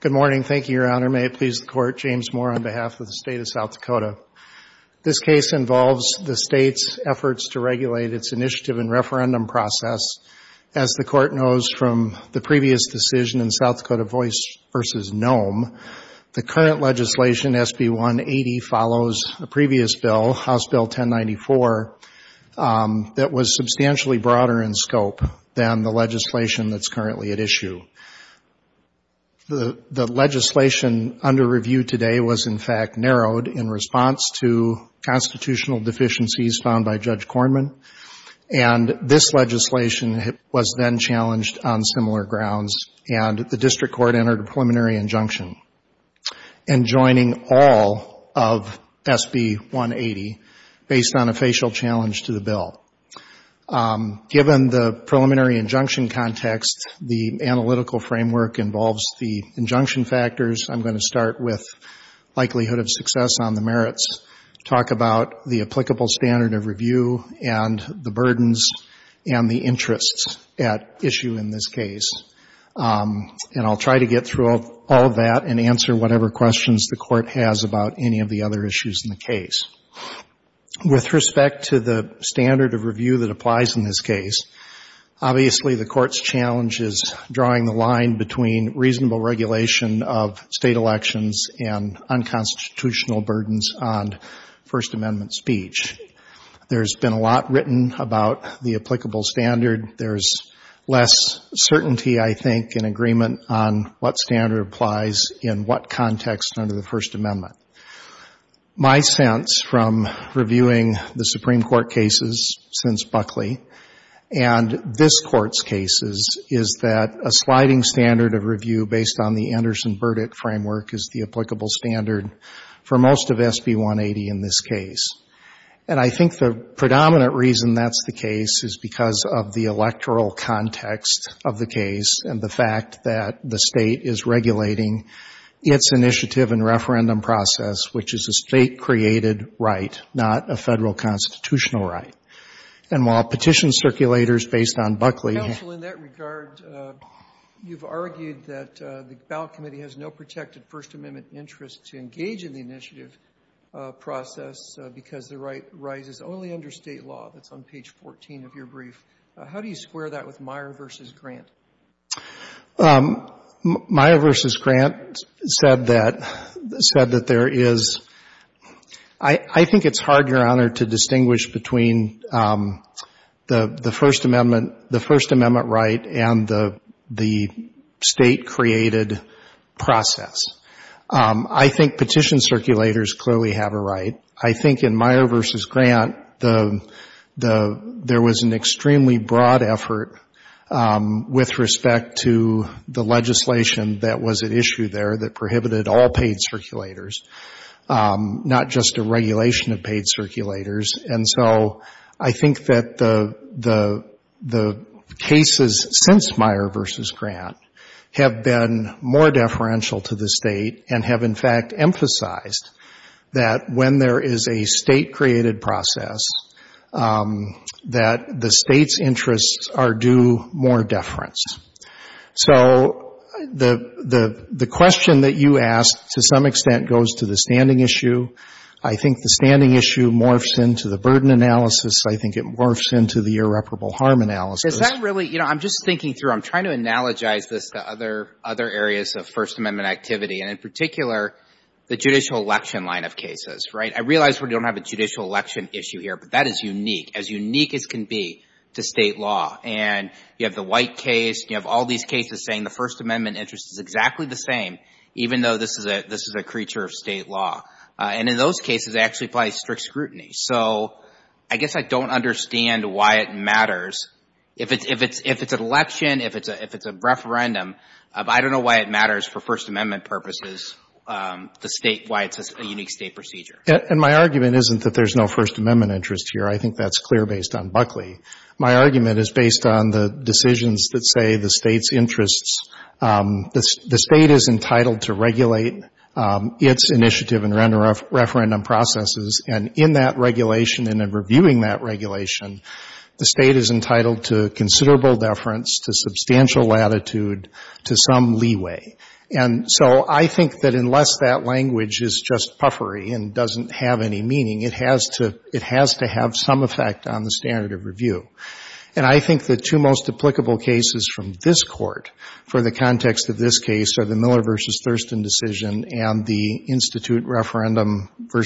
Good morning. Thank you, Your Honor. May it please the Court, James Moore on behalf of the State of South Dakota. This case involves the State's efforts to regulate its initiative and referendum process. As the Court knows from the previous decision in South Dakota Voice v. Noem, the current legislation, SB 180, follows a previous bill, House Bill 1094, that was substantially broader in scope than the legislation that's currently at issue. The legislation under review today was, in fact, narrowed in response to constitutional deficiencies found by Judge Kornman, and this legislation was then challenged on similar grounds, and the District Court entered a preliminary injunction in joining all of SB 180 based on a facial challenge to the bill. Given the preliminary injunction context, the analytical framework involves the injunction factors. I'm going to start with likelihood of success on the merits, talk about the applicable standard of review and the burdens and the interests at issue in this case, and I'll try to get through all of that and answer whatever questions the Court has about any of the other issues in the case. With respect to the standard of review that applies in this case, obviously the Court's challenge is drawing the line between reasonable regulation of State elections and unconstitutional burdens on First Amendment speech. There's been a lot written about the applicable standard. There's less certainty, I think, in agreement on what standard applies in what context under the First Amendment. My sense from reviewing the Supreme Court cases since Buckley and this Court's cases is that a sliding standard of review based on the Anderson verdict framework is the applicable standard for most of SB 180 in this case, and I think the predominant reason that's the case is because of the electoral context of the case and the fact that the State is regulating its initiative and referendum process, which is a State-created right, not a Federal constitutional right. And while petition circulators based on Buckley have argued that the ballot committee has no protected First Amendment interest to engage in the initiative process because the right rises only under State law, that's on page 14 of your brief, how do you square that with Meyer v. Grant? Meyer v. Grant said that there is — I think it's hard, Your Honor, to distinguish between the First Amendment right and the State-created process. I think petition circulators clearly have a right. I think in Meyer v. Grant there was an extremely broad effort with respect to the legislation that was at issue there that prohibited all paid circulators, and so I think that the cases since Meyer v. Grant have been more deferential to the State and have, in fact, emphasized that when there is a State-created process, that the State's interests are due more deference. So the question that you asked, to some extent, goes to the standing issue. I think the standing issue morphs into the burden analysis. I think it morphs into the irreparable harm analysis. Is that really — you know, I'm just thinking through. I'm trying to analogize this to other areas of First Amendment activity, and in particular, the judicial election line of cases, right? I realize we don't have a judicial election issue here, but that is unique, as unique as can be, to State law. And you have the White case. You have all these cases saying the First Amendment interest is exactly the same, even though this is a creature of State law. And in those cases, it actually applies strict scrutiny. So I guess I don't understand why it matters. If it's an election, if it's a referendum, I don't know why it matters for First Amendment purposes, the State — why it's a unique State procedure. And my argument isn't that there's no First Amendment interest here. I think that's clear based on Buckley. My argument is based on the decisions that say the State's interest — the State is entitled to regulate its initiative and referendum processes, and in that regulation and in reviewing that regulation, the State is entitled to considerable deference, to substantial latitude, to some leeway. And so I think that unless that language is just puffery and doesn't have any meaning, it has to — it has to have some effect on the standard of review. And I think the two most applicable cases from this Court for the context of this case are the Miller v. Thurston decision and the Institute referendum v.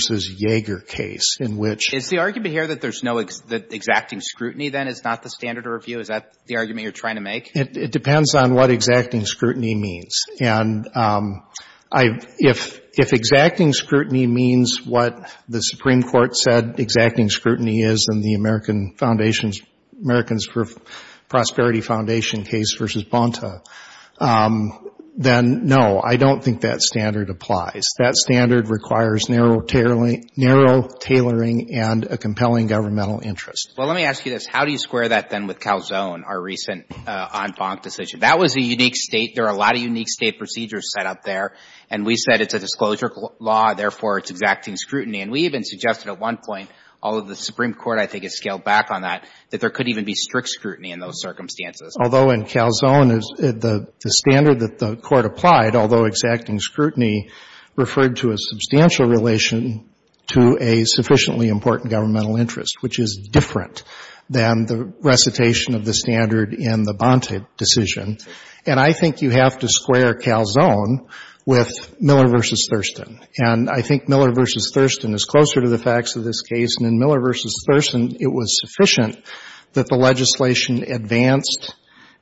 Yeager case, in which — Is the argument here that there's no — that exacting scrutiny, then, is not the standard of review? Is that the argument you're trying to make? It depends on what exacting scrutiny means. And I — if — if exacting scrutiny means what the Supreme Court said exacting scrutiny is and the American Foundation's — American's Prosperity Foundation case v. Bonta, then, no, I don't think that standard applies. That standard requires narrow tailoring and a compelling governmental interest. Well, let me ask you this. How do you square that, then, with Calzone, our recent en banc decision? That was a unique State. There are a lot of unique State procedures set up there. And we said it's a disclosure law, therefore, it's exacting scrutiny. And we even suggested at one point, although the Supreme Court, I think, has scaled back on that, that there could even be strict scrutiny in those circumstances. Although in Calzone, the — the standard that the Court applied, although exacting scrutiny, referred to a substantial relation to a sufficiently important governmental interest, which is different than the recitation of the standard in the Bonta decision. And I think you have to square Calzone with Miller v. Thurston. And I think Miller v. Thurston is closer to the facts of this case. And in Miller v. Thurston, it was sufficient that the legislation advanced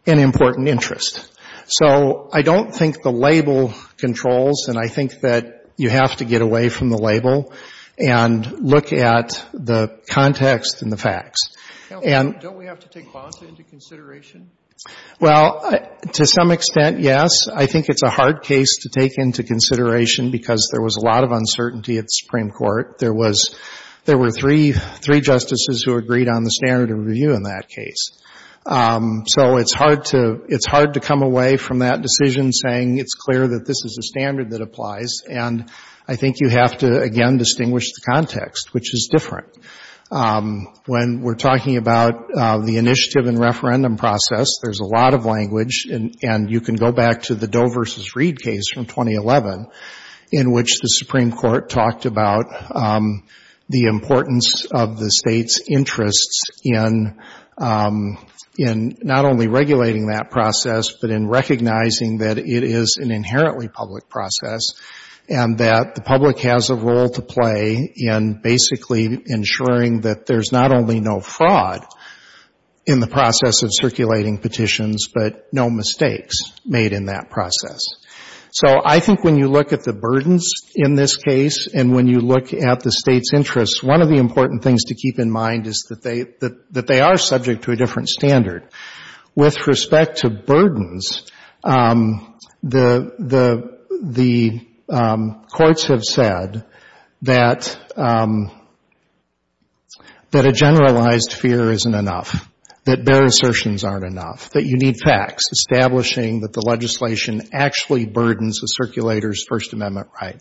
an important interest. So I don't think the label controls, and I think that you have to get away from the label and look at the context and the facts. And — Don't we have to take Bonta into consideration? Well, to some extent, yes. I think it's a hard case to take into consideration because there was a lot of uncertainty at the Supreme Court. There was — there were three justices who agreed on the standard of review in that case. So it's hard to — it's hard to come away from that decision saying it's clear that this is a standard that applies. And I think you have to, again, distinguish the context, which is different. When we're talking about the initiative and referendum process, there's a lot of language, and you can go back to the Doe v. Reed case from 2011, in which the Supreme Court talked about the importance of the state's interests in not only regulating that process, but in recognizing that it is an inherently public process and that the public has a role to play in basically ensuring that there's not only no fraud in the process, but no mistakes made in that process. So I think when you look at the burdens in this case and when you look at the state's interests, one of the important things to keep in mind is that they are subject to a different standard. With respect to burdens, the courts have said that a generalized fear isn't enough, that bare assertions aren't enough, that you need facts, establishing that the legislation actually burdens the circulator's First Amendment right.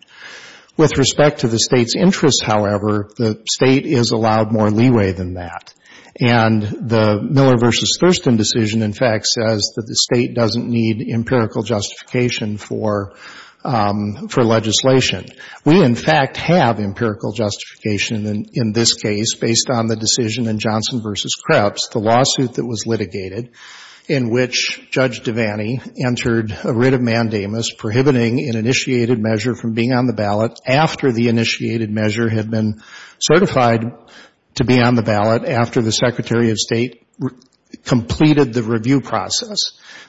With respect to the state's interests, however, the state is allowed more leeway than that. And the Miller v. Thurston decision, in fact, says that the state doesn't need empirical justification for legislation. We, in fact, have empirical justification in this case based on the decision in Johnson v. Krebs, the lawsuit that was litigated in which Judge Devaney entered a writ of mandamus prohibiting an initiated measure from being on the ballot after the initiated measure had been certified to be on the ballot after the Secretary of State completed the review process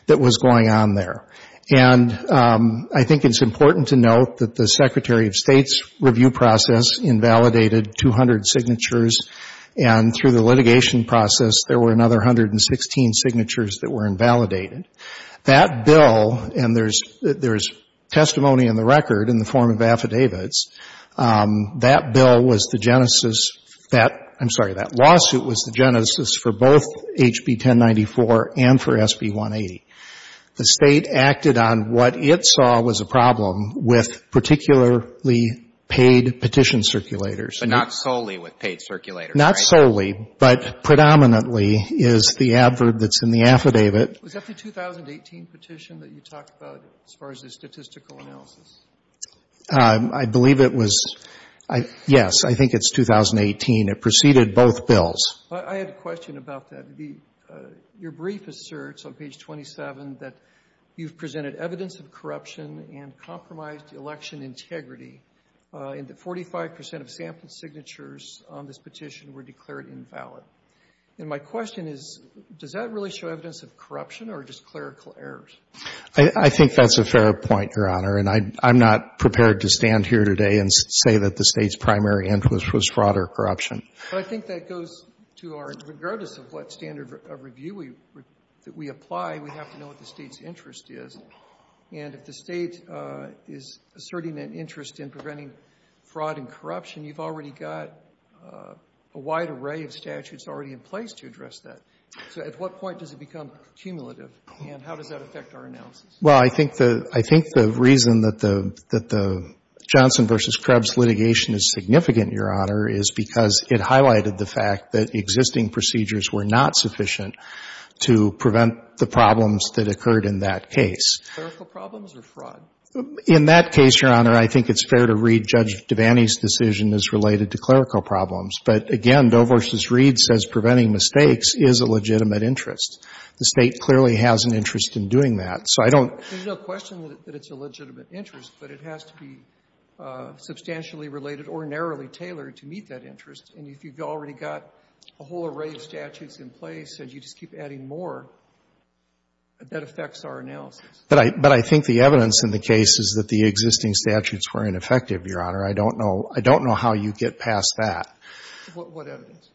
that was going on there. And I think it's important to note that the Secretary of State's review process invalidated 200 signatures, and through the litigation process, there were another 116 signatures that were invalidated. That bill, and there's testimony in the record in the form of affidavits, that bill was the genesis, I'm sorry, that lawsuit was the genesis for both HB 1094 and for HB 180. The State acted on what it saw was a problem with particularly paid petition circulators. But not solely with paid circulators, right? Not solely, but predominantly is the adverb that's in the affidavit. Was that the 2018 petition that you talked about as far as the statistical analysis? I believe it was. Yes, I think it's 2018. It preceded both bills. I had a question about that. Your brief asserts on page 27 that you've presented evidence of corruption and compromised election integrity, and that 45 percent of sample signatures on this petition were declared invalid. And my question is, does that really show evidence of corruption or just clerical errors? I think that's a fair point, Your Honor, and I'm not prepared to stand here today and say that the State's primary influence was fraud or corruption. But I think that goes to our, regardless of what standard of review we apply, we have to know what the State's interest is. And if the State is asserting an interest in preventing fraud and corruption, you've already got a wide array of statutes already in place to address that. So at what point does it become cumulative, and how does that affect our analysis? Well, I think the reason that the Johnson v. Krebs litigation is significant, Your Honor, is because it highlighted the fact that existing procedures were not sufficient to prevent the problems that occurred in that case. Clerical problems or fraud? In that case, Your Honor, I think it's fair to read Judge Devaney's decision as related to clerical problems. But again, Dover v. Reed says preventing mistakes is a legitimate interest. The State clearly has an interest in doing that. So I don't There's no question that it's a legitimate interest, but it has to be substantially related or narrowly tailored to meet that interest. And if you've already got a whole array of statutes in place and you just keep adding more, that affects our analysis. But I think the evidence in the case is that the existing statutes were ineffective, Your Honor. I don't know. I don't know how you get past that. What evidence?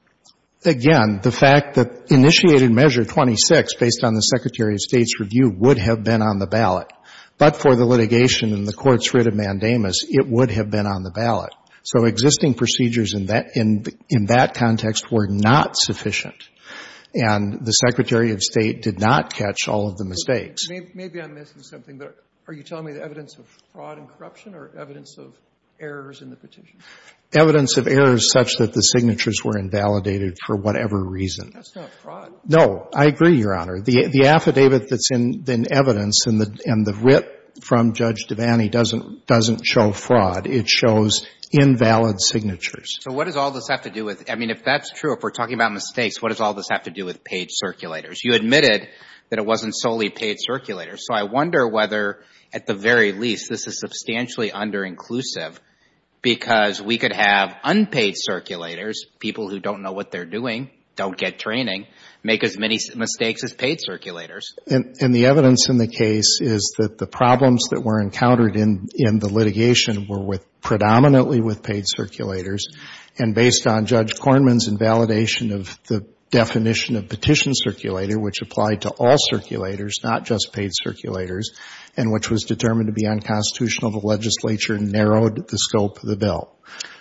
Again, the fact that initiated Measure 26, based on the Secretary of State's review, would have been on the ballot. But for the litigation and the Court's review of Mandamus, it would have been on the ballot. So existing procedures in that context were not sufficient, and the Secretary of State did not catch all of the mistakes. Maybe I'm missing something, but are you telling me the evidence of fraud and corruption or evidence of errors in the petition? Evidence of errors such that the signatures were invalidated for whatever reason. That's not fraud. No. I agree, Your Honor. The affidavit that's in evidence and the writ from Judge Devaney doesn't show fraud. It shows invalid signatures. So what does all this have to do with — I mean, if that's true, if we're talking about mistakes, what does all this have to do with paid circulators? You admitted that it wasn't solely paid circulators. So I wonder whether, at the very least, this is substantially under-inclusive because we could have unpaid circulators, people who don't know what they're doing, don't get training, make as many mistakes as paid circulators. And the evidence in the case is that the problems that were encountered in the litigation were with — predominantly with paid circulators, and based on Judge Kornman's invalidation of the definition of petition circulator, which applied to all circulators, not just paid circulators, and which was determined to be unconstitutional, the legislature narrowed the scope of the bill.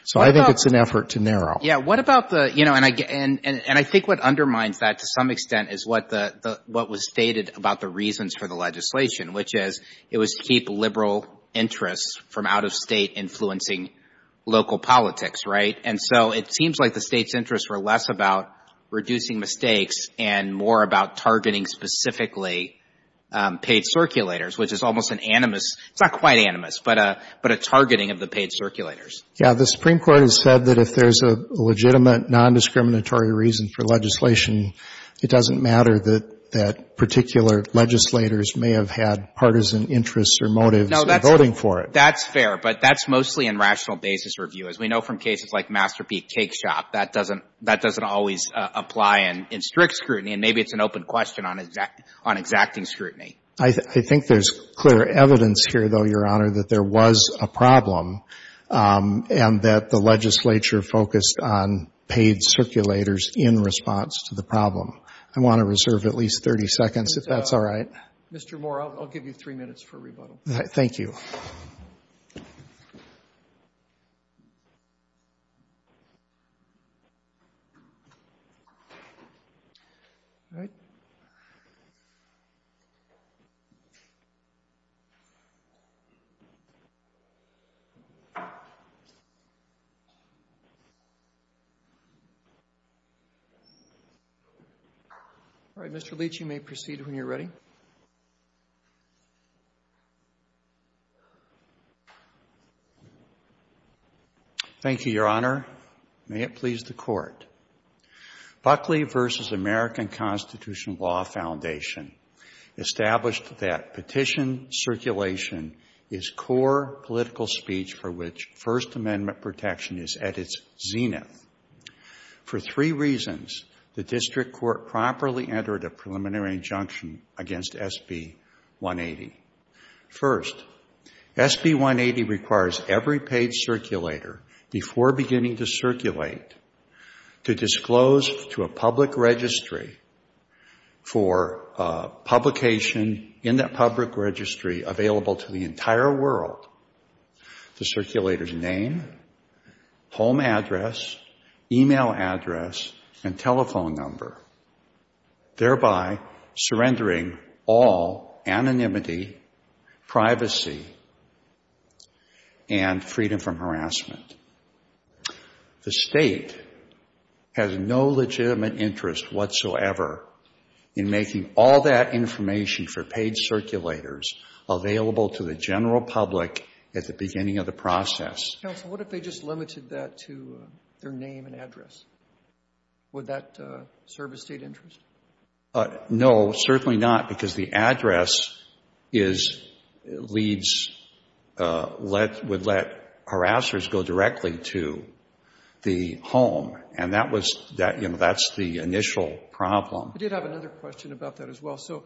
So I think it's an effort to narrow. Yeah. What about the — you know, and I think what undermines that to some extent is what the — what was stated about the reasons for the legislation, which is it was to keep liberal interests from out-of-state influencing local politics, right? And so it seems like the State's interests were less about reducing mistakes and more about targeting specifically paid circulators, which is almost an animus — it's not quite animus, but a — but a targeting of the paid circulators. Yeah. The Supreme Court has said that if there's a legitimate, nondiscriminatory reason for legislation, it doesn't matter that particular legislators may have had partisan interests or motives in voting for it. No, that's — that's fair, but that's mostly in rational basis review. As we know from cases like Masterpiece Cake Shop, that doesn't — that doesn't always apply in strict scrutiny, and maybe it's an open question on exacting scrutiny. I think there's clear evidence here, though, Your Honor, that there was a problem and that the legislature focused on paid circulators in response to the problem. I want to reserve at least 30 seconds, if that's all right. Mr. Moore, I'll give you three minutes for rebuttal. Thank you. All right. Mr. Leach, you may proceed when you're ready. Thank you, Your Honor. May it please the Court. Buckley v. American Constitutional Law Foundation established that petition circulation is core political speech for which First Amendment protection is at its zenith. For three reasons, the district court properly entered a preliminary injunction against SB 180. First, SB 180 requires every paid circulator, before beginning to circulate, to disclose to a public registry for publication in that public registry available to the entire world the circulator's name, home address, e-mail address, and telephone number, thereby surrendering all anonymity, privacy, and freedom from harassment. The State has no legitimate interest whatsoever in making all that information for paid circulators available to the general public at the beginning of the process. Counsel, what if they just limited that to their name and address? Would that serve a State interest? No, certainly not, because the address is leads, would let harassers go directly to the home. And that was that, you know, that's the initial problem. I did have another question about that as well. So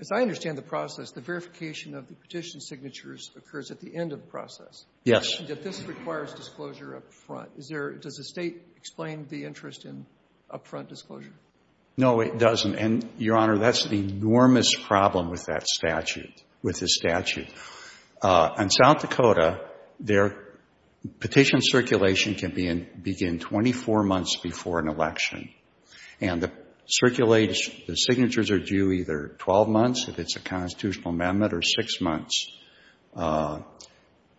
as I understand the process, the verification of the petition signatures occurs at the end of the process. Yes. And yet this requires disclosure up front. Is there — does the State explain the interest in up-front disclosure? No, it doesn't. And, Your Honor, that's the enormous problem with that statute, with the statute. In South Dakota, their petition circulation can begin 24 months before an election. And the circulators, the signatures are due either 12 months if it's a constitutional amendment or six months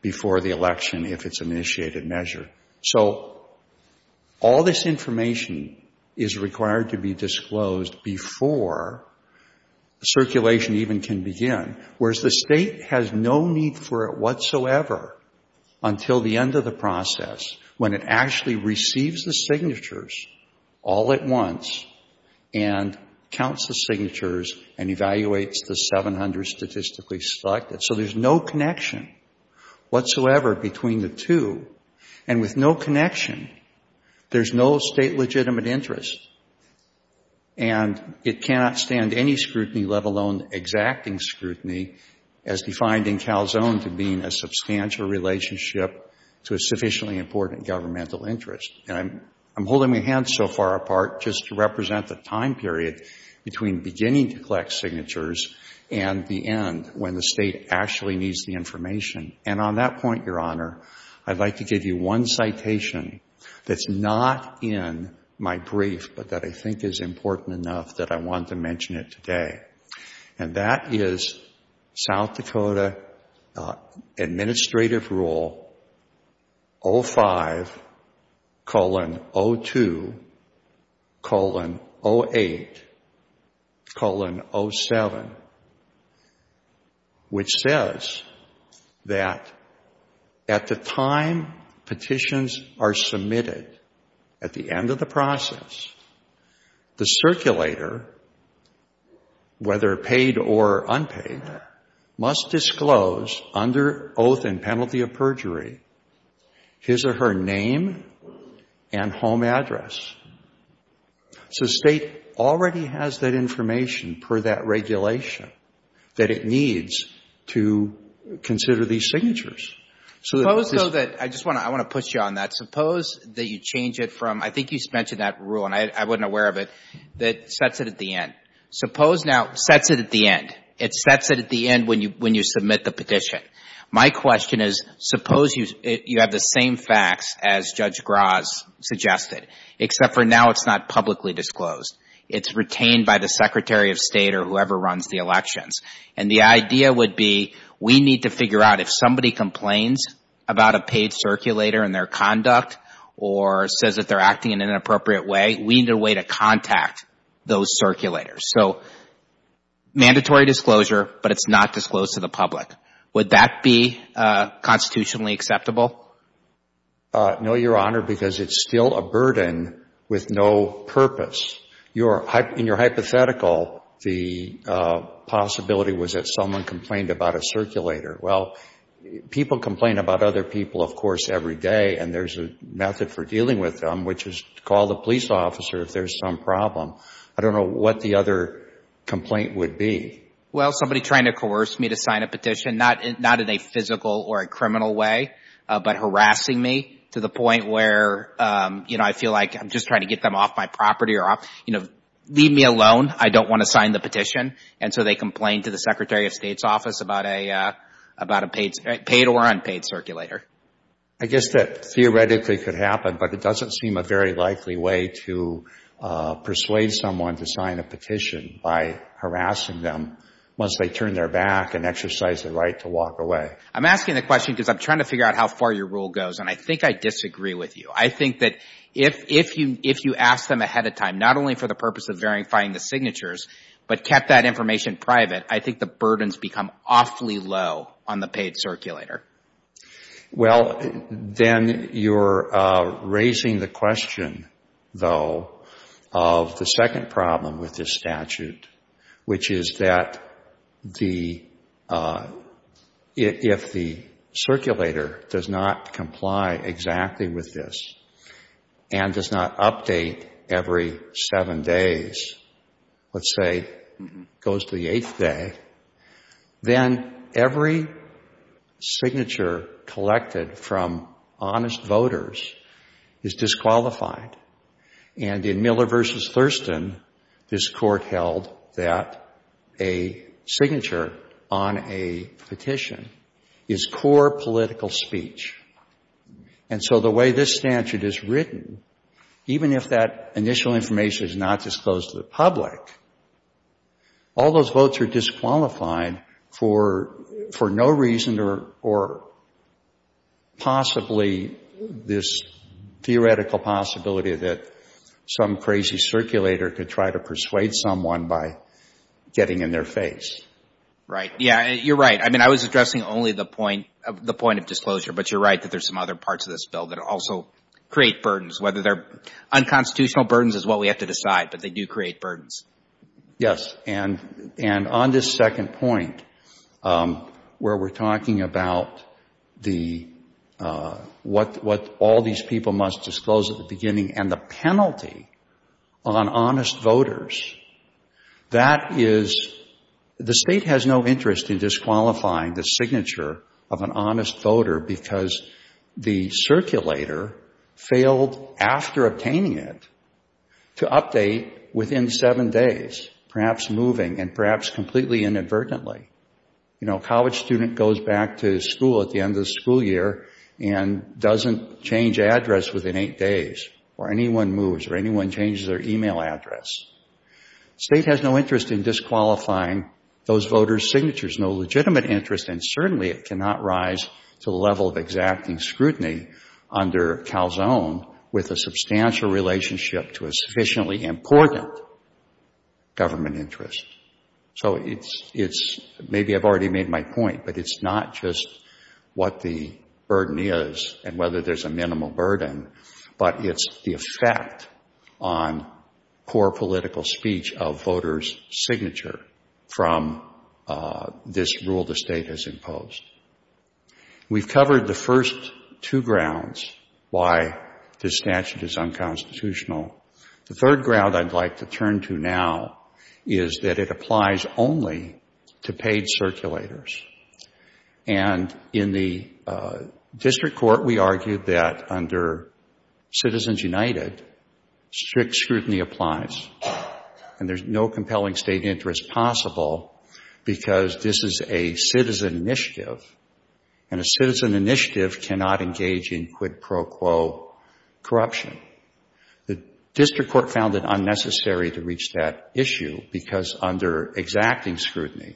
before the election if it's an initiated measure. So all this information is required to be disclosed before circulation even can begin, whereas the State has no need for it whatsoever until the end of the process when it actually receives the signatures all at once and counts the signatures and evaluates the 700 statistically selected. So there's no connection whatsoever between the two. And with no connection, there's no State legitimate interest. And it cannot stand any scrutiny, let alone exacting scrutiny, as defined in Calzone to being a substantial relationship to a sufficiently important governmental interest. And I'm holding my hand so far apart just to represent the time period between beginning to collect signatures and the end when the State actually needs the information. And on that point, Your Honor, I'd like to give you one citation that's not in my brief but that I think is important enough that I want to mention it today. And that is South Dakota Administrative Rule 05-02-08-07, which says that at the time petitions are submitted, at the end of the process, the circulator whether paid or unpaid, must disclose, under oath and penalty of perjury, his or her name and home address. So the State already has that information per that regulation that it needs to consider these signatures. So that this is — Suppose, though, that — I just want to push you on that. Suppose that you change it from — I think you mentioned that rule, and I wasn't aware of it — that sets it at the end. Suppose now — sets it at the end. It sets it at the end when you submit the petition. My question is, suppose you have the same facts as Judge Graz suggested, except for now it's not publicly disclosed. It's retained by the Secretary of State or whoever runs the elections. And the idea would be we need to figure out if somebody complains about a paid circulator and their conduct or says that they're acting in an unlawful manner. Would that be constitutionally acceptable? No, Your Honor, because it's still a burden with no purpose. In your hypothetical, the possibility was that someone complained about a circulator. Well, people complain about other people, of course, every day, and there's a method for dealing with them, which is to call the police officer if there's some problem. I don't know what the other complaint would be. Well, somebody trying to coerce me to sign a petition, not in a physical or a criminal way, but harassing me to the point where, you know, I feel like I'm just trying to get them off my property or off — you know, leave me alone. I don't want to sign the petition. And so they complain to the Secretary of State's office about a paid or unpaid circulator. I guess that theoretically could happen, but it doesn't seem a very likely way to persuade someone to sign a petition by harassing them once they turn their back and exercise the right to walk away. I'm asking the question because I'm trying to figure out how far your rule goes, and I think I disagree with you. I think that if you ask them ahead of time, not only for their own benefit, but for the benefit of the public as a whole. Well, then you're raising the question, though, of the second problem with this statute, which is that the — if the circulator does not comply exactly with this and does not update every seven days, let's say it goes to the eighth day, then every signature submitted from honest voters is disqualified. And in Miller v. Thurston, this Court held that a signature on a petition is core political speech. And so the way this statute is written, even if that initial information is not disclosed to the public, all those votes are disqualified for no reason or possibly this theoretical possibility that some crazy circulator could try to persuade someone by getting in their face. Right. Yeah, you're right. I mean, I was addressing only the point of disclosure, but you're right that there's some other parts of this bill that also create burdens, whether they're unconstitutional burdens is what we have to decide, but they do create what all these people must disclose at the beginning and the penalty on honest voters. That is — the State has no interest in disqualifying the signature of an honest voter because the circulator failed, after obtaining it, to update within seven days, perhaps moving and perhaps completely inadvertently. You know, a college student goes back to school at the end of the school year and doesn't change address within eight days, or anyone moves or anyone changes their e-mail address. The State has no interest in disqualifying those voters' signatures, no legitimate interest, and certainly it cannot rise to the level of exacting scrutiny under Calzone with a substantial relationship to a sufficiently important government interest. So it's — maybe I've already made my point, but it's not just what the burden is and whether there's a minimal burden, but it's the effect on poor political speech of voters' signature from this rule the State has imposed. We've covered the first two grounds why this statute is unconstitutional. The third ground I'd like to turn to now is that it applies only to paid circulators. And in the district court we argued that under Citizens United, strict scrutiny applies, and there's no compelling State interest possible because this is a citizen initiative, and a citizen initiative cannot engage in quid pro quo corruption. The district court found it unnecessary to reach that issue because under exacting scrutiny,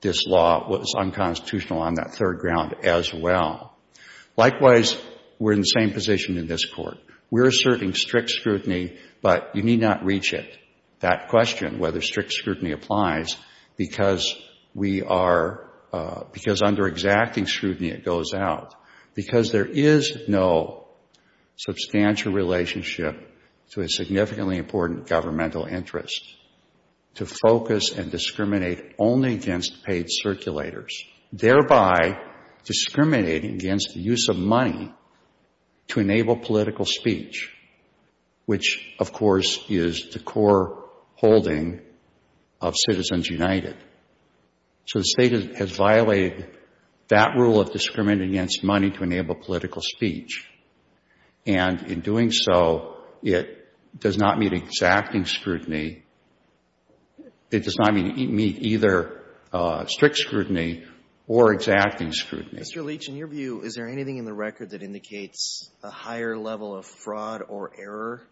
this law was unconstitutional on that third ground as well. Likewise, we're in the same position in this Court. We're asserting strict scrutiny, but you need not reach it. That question, whether strict scrutiny applies, because we are — because under exacting scrutiny goes out, because there is no substantial relationship to a significantly important governmental interest to focus and discriminate only against paid circulators, thereby discriminating against the use of money to enable political speech, which of course is the core holding of Citizens United. So the State has violated that rule of discriminating against money to enable political speech. And in doing so, it does not meet exacting scrutiny. It does not meet either strict scrutiny or exacting scrutiny. Mr. Leach, in your view, is there anything in the record that indicates a higher level of fraud or error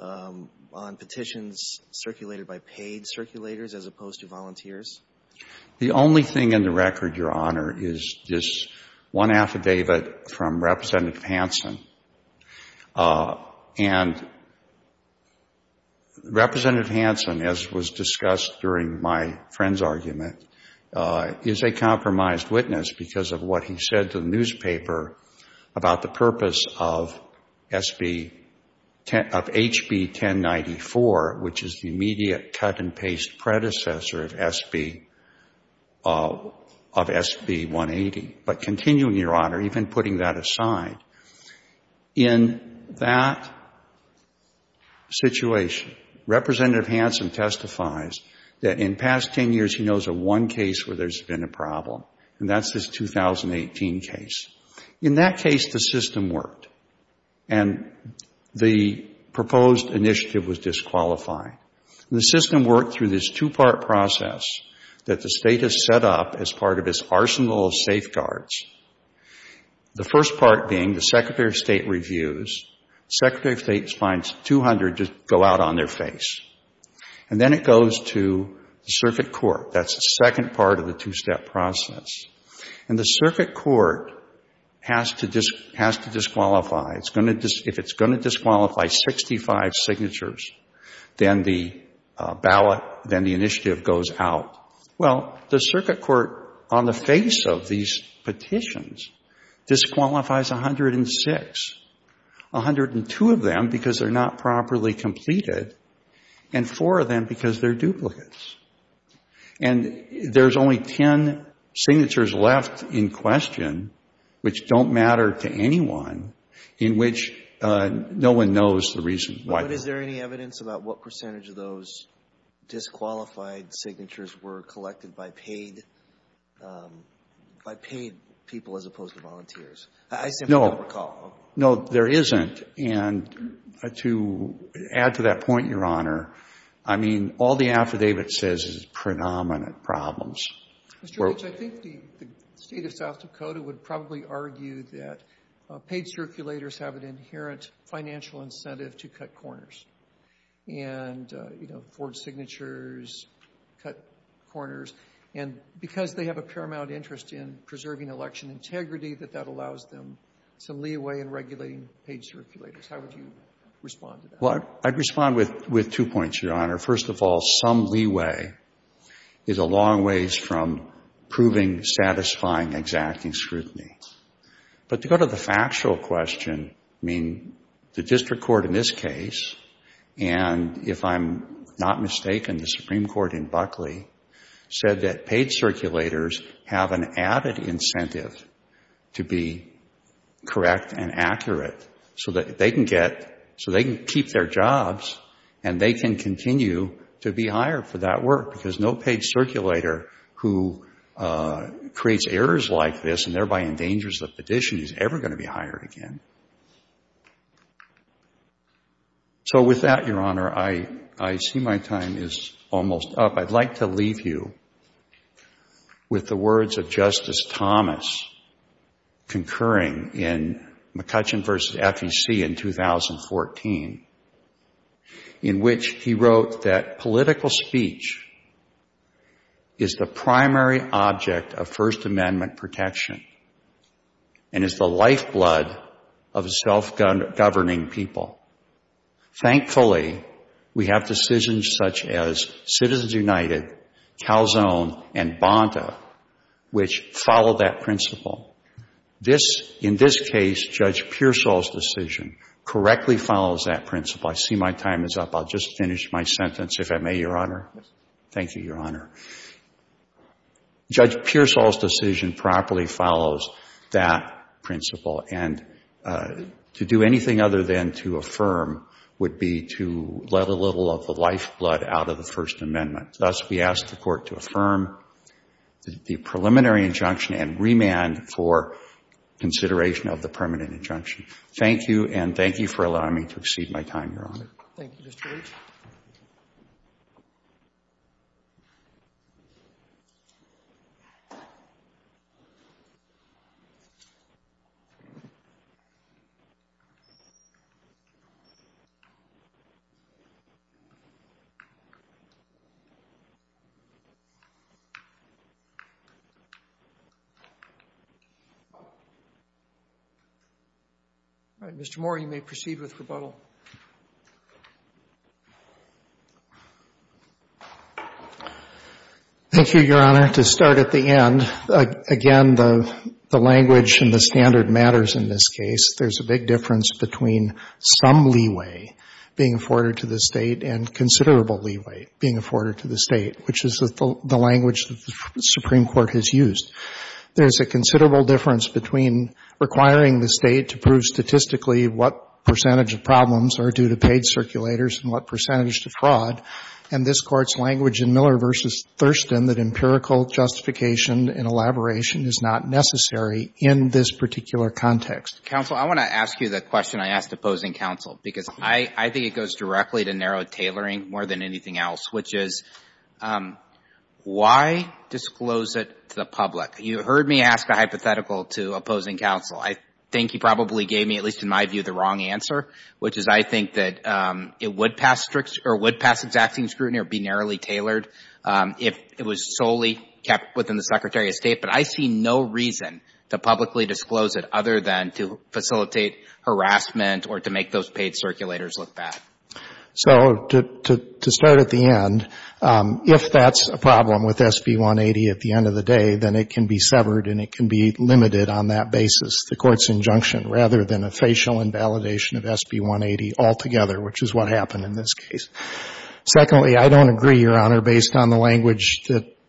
on petitions circulated by paid circulators as opposed to volunteers? The only thing in the record, Your Honor, is this one affidavit from Representative Hansen. And Representative Hansen, as was discussed during my friend's argument, is a compromised witness because of what he said to the newspaper about the purpose of SB — of HB 1094, which is the immediate cut-and-paste predecessor of SB — of SB 180. But continuing, Your Honor, even putting that aside, in that situation, Representative Hansen testifies that in past 10 years he knows of one case where there's been a problem, and that's this 2018 case. In that case, the system worked, and the proposed initiative was disqualified. And the system worked through this two-part process that the State has set up as part of its arsenal of safeguards, the first part being the Secretary of State reviews. The Secretary of State finds 200 just go out on their face. And then it goes to the circuit court. That's the second part of the two-step process. And the circuit court has to disqualify. If it's going to disqualify 65 signatures, then the ballot, then the initiative goes out. Well, the circuit court on the face of these petitions disqualifies 106, 102 of them because they're not properly completed, and four of them because they're duplicates. And there's only 10 signatures left in question, which don't matter to anyone, in which no one knows the reason why. But is there any evidence about what percentage of those disqualified signatures were collected by paid people as opposed to volunteers? I simply don't recall. No, there isn't. And to add to that point, Your Honor, I mean, all the affidavits that I've seen in the past, I mean, I don't know. I don't know. I don't know. I don't know. And just to add to that, Your Honor, as far as the issue of providing election integrity, that that allows them some leeway in regulating paid circulators, how would you respond to that? Well, I'd respond with two points, Your Honor. First of all, some leeway is a long ways from proving, satisfying, exacting scrutiny. But to go to the factual question, I mean, the district court in this case, and if I'm not mistaken, the Supreme Court in Buckley, said that paid circulators have an added incentive to be correct and accurate so that they can get, so they can keep their jobs and they can continue to be hired for that work, because no paid circulator is more dangerous than a petitioner who's ever going to be hired again. So with that, Your Honor, I see my time is almost up. I'd like to leave you with the words of Justice Thomas, concurring in McCutcheon v. FEC in 2014, in which he wrote that political speech is the primary object of self-government and is the lifeblood of self-governing people. Thankfully, we have decisions such as Citizens United, Calzone, and Bonta, which follow that principle. This, in this case, Judge Pearsall's decision correctly follows that principle. I see my time is up. I'll just finish my sentence, if I may, Your Honor. Thank you, Your Honor. Judge Pearsall's decision properly follows that principle, and to do anything other than to affirm would be to let a little of the lifeblood out of the First Amendment. Thus, we ask the Court to affirm the preliminary injunction and remand for consideration of the permanent injunction. Thank you, and thank you for allowing me to exceed my time, Your Honor. Thank you, Mr. Leach. All right. Mr. Moore, you may proceed with rebuttal. Thank you, Your Honor. To start at the end, again, the language and the standard matters in this case. There's a big difference between some leeway being afforded to the State and considerable leeway being afforded to the State, which is the language the Supreme Court has used. There's a considerable difference between requiring the State to prove statistically what percentage of problems are due to paid circulators and what percentage to fraud, and this Court's language in Miller v. Thurston has been that empirical justification and elaboration is not necessary in this particular context. Counsel, I want to ask you the question I asked opposing counsel, because I think it goes directly to narrow tailoring more than anything else, which is why disclose it to the public? You heard me ask a hypothetical to opposing counsel. I think you probably gave me, at least in my view, the wrong answer, which is I think that it would pass exacting scrutiny or be narrowly tailored if it was solely kept within the Secretary of State, but I see no reason to publicly disclose it other than to facilitate harassment or to make those paid circulators look bad. So to start at the end, if that's a problem with SB 180 at the end of the day, then it can be severed and it can be limited on that basis, the Court's injunction, rather than a facial invalidation of SB 180 altogether, which is what happened in this case. Secondly, I don't agree, Your Honor, based on the language,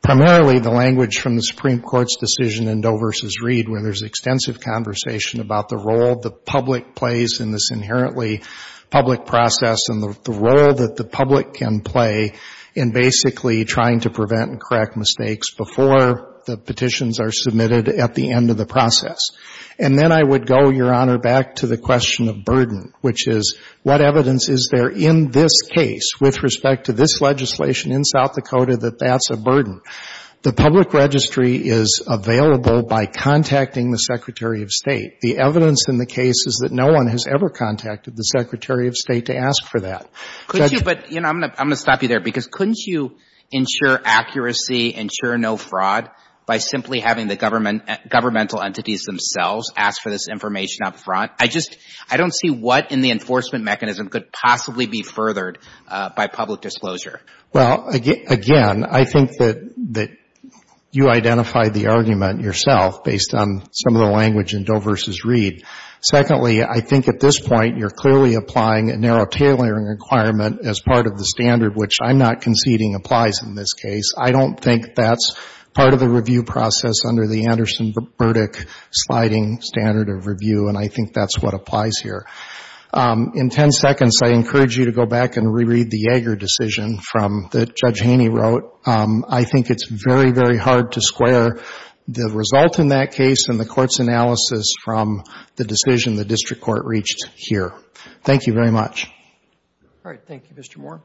primarily the language from the Supreme Court's decision in Doe v. Reed where there's extensive conversation about the role the public plays in this inherently public process and the role that the public can play in basically trying to prevent and correct mistakes before the question of burden, which is what evidence is there in this case with respect to this legislation in South Dakota that that's a burden. The public registry is available by contacting the Secretary of State. The evidence in the case is that no one has ever contacted the Secretary of State to ask for that. Could you, but, you know, I'm going to stop you there, because couldn't you ensure accuracy, ensure no fraud by simply having the governmental entities themselves ask for this information up front? I just, I don't see what in the enforcement mechanism could possibly be furthered by public disclosure. Well, again, I think that you identified the argument yourself based on some of the language in Doe v. Reed. Secondly, I think at this point you're clearly applying a narrow tailoring requirement as part of the standard, which I'm not conceding applies in this case. I don't think that's part of the review process under the Anderson-Burdick sliding standard of review, and I think that's what applies here. In 10 seconds, I encourage you to go back and reread the Yeager decision from that Judge Haney wrote. I think it's very, very hard to square the result in that case and the Court's analysis from the decision the district court reached here. Thank you very much. All right. Thank you, Mr. Moore.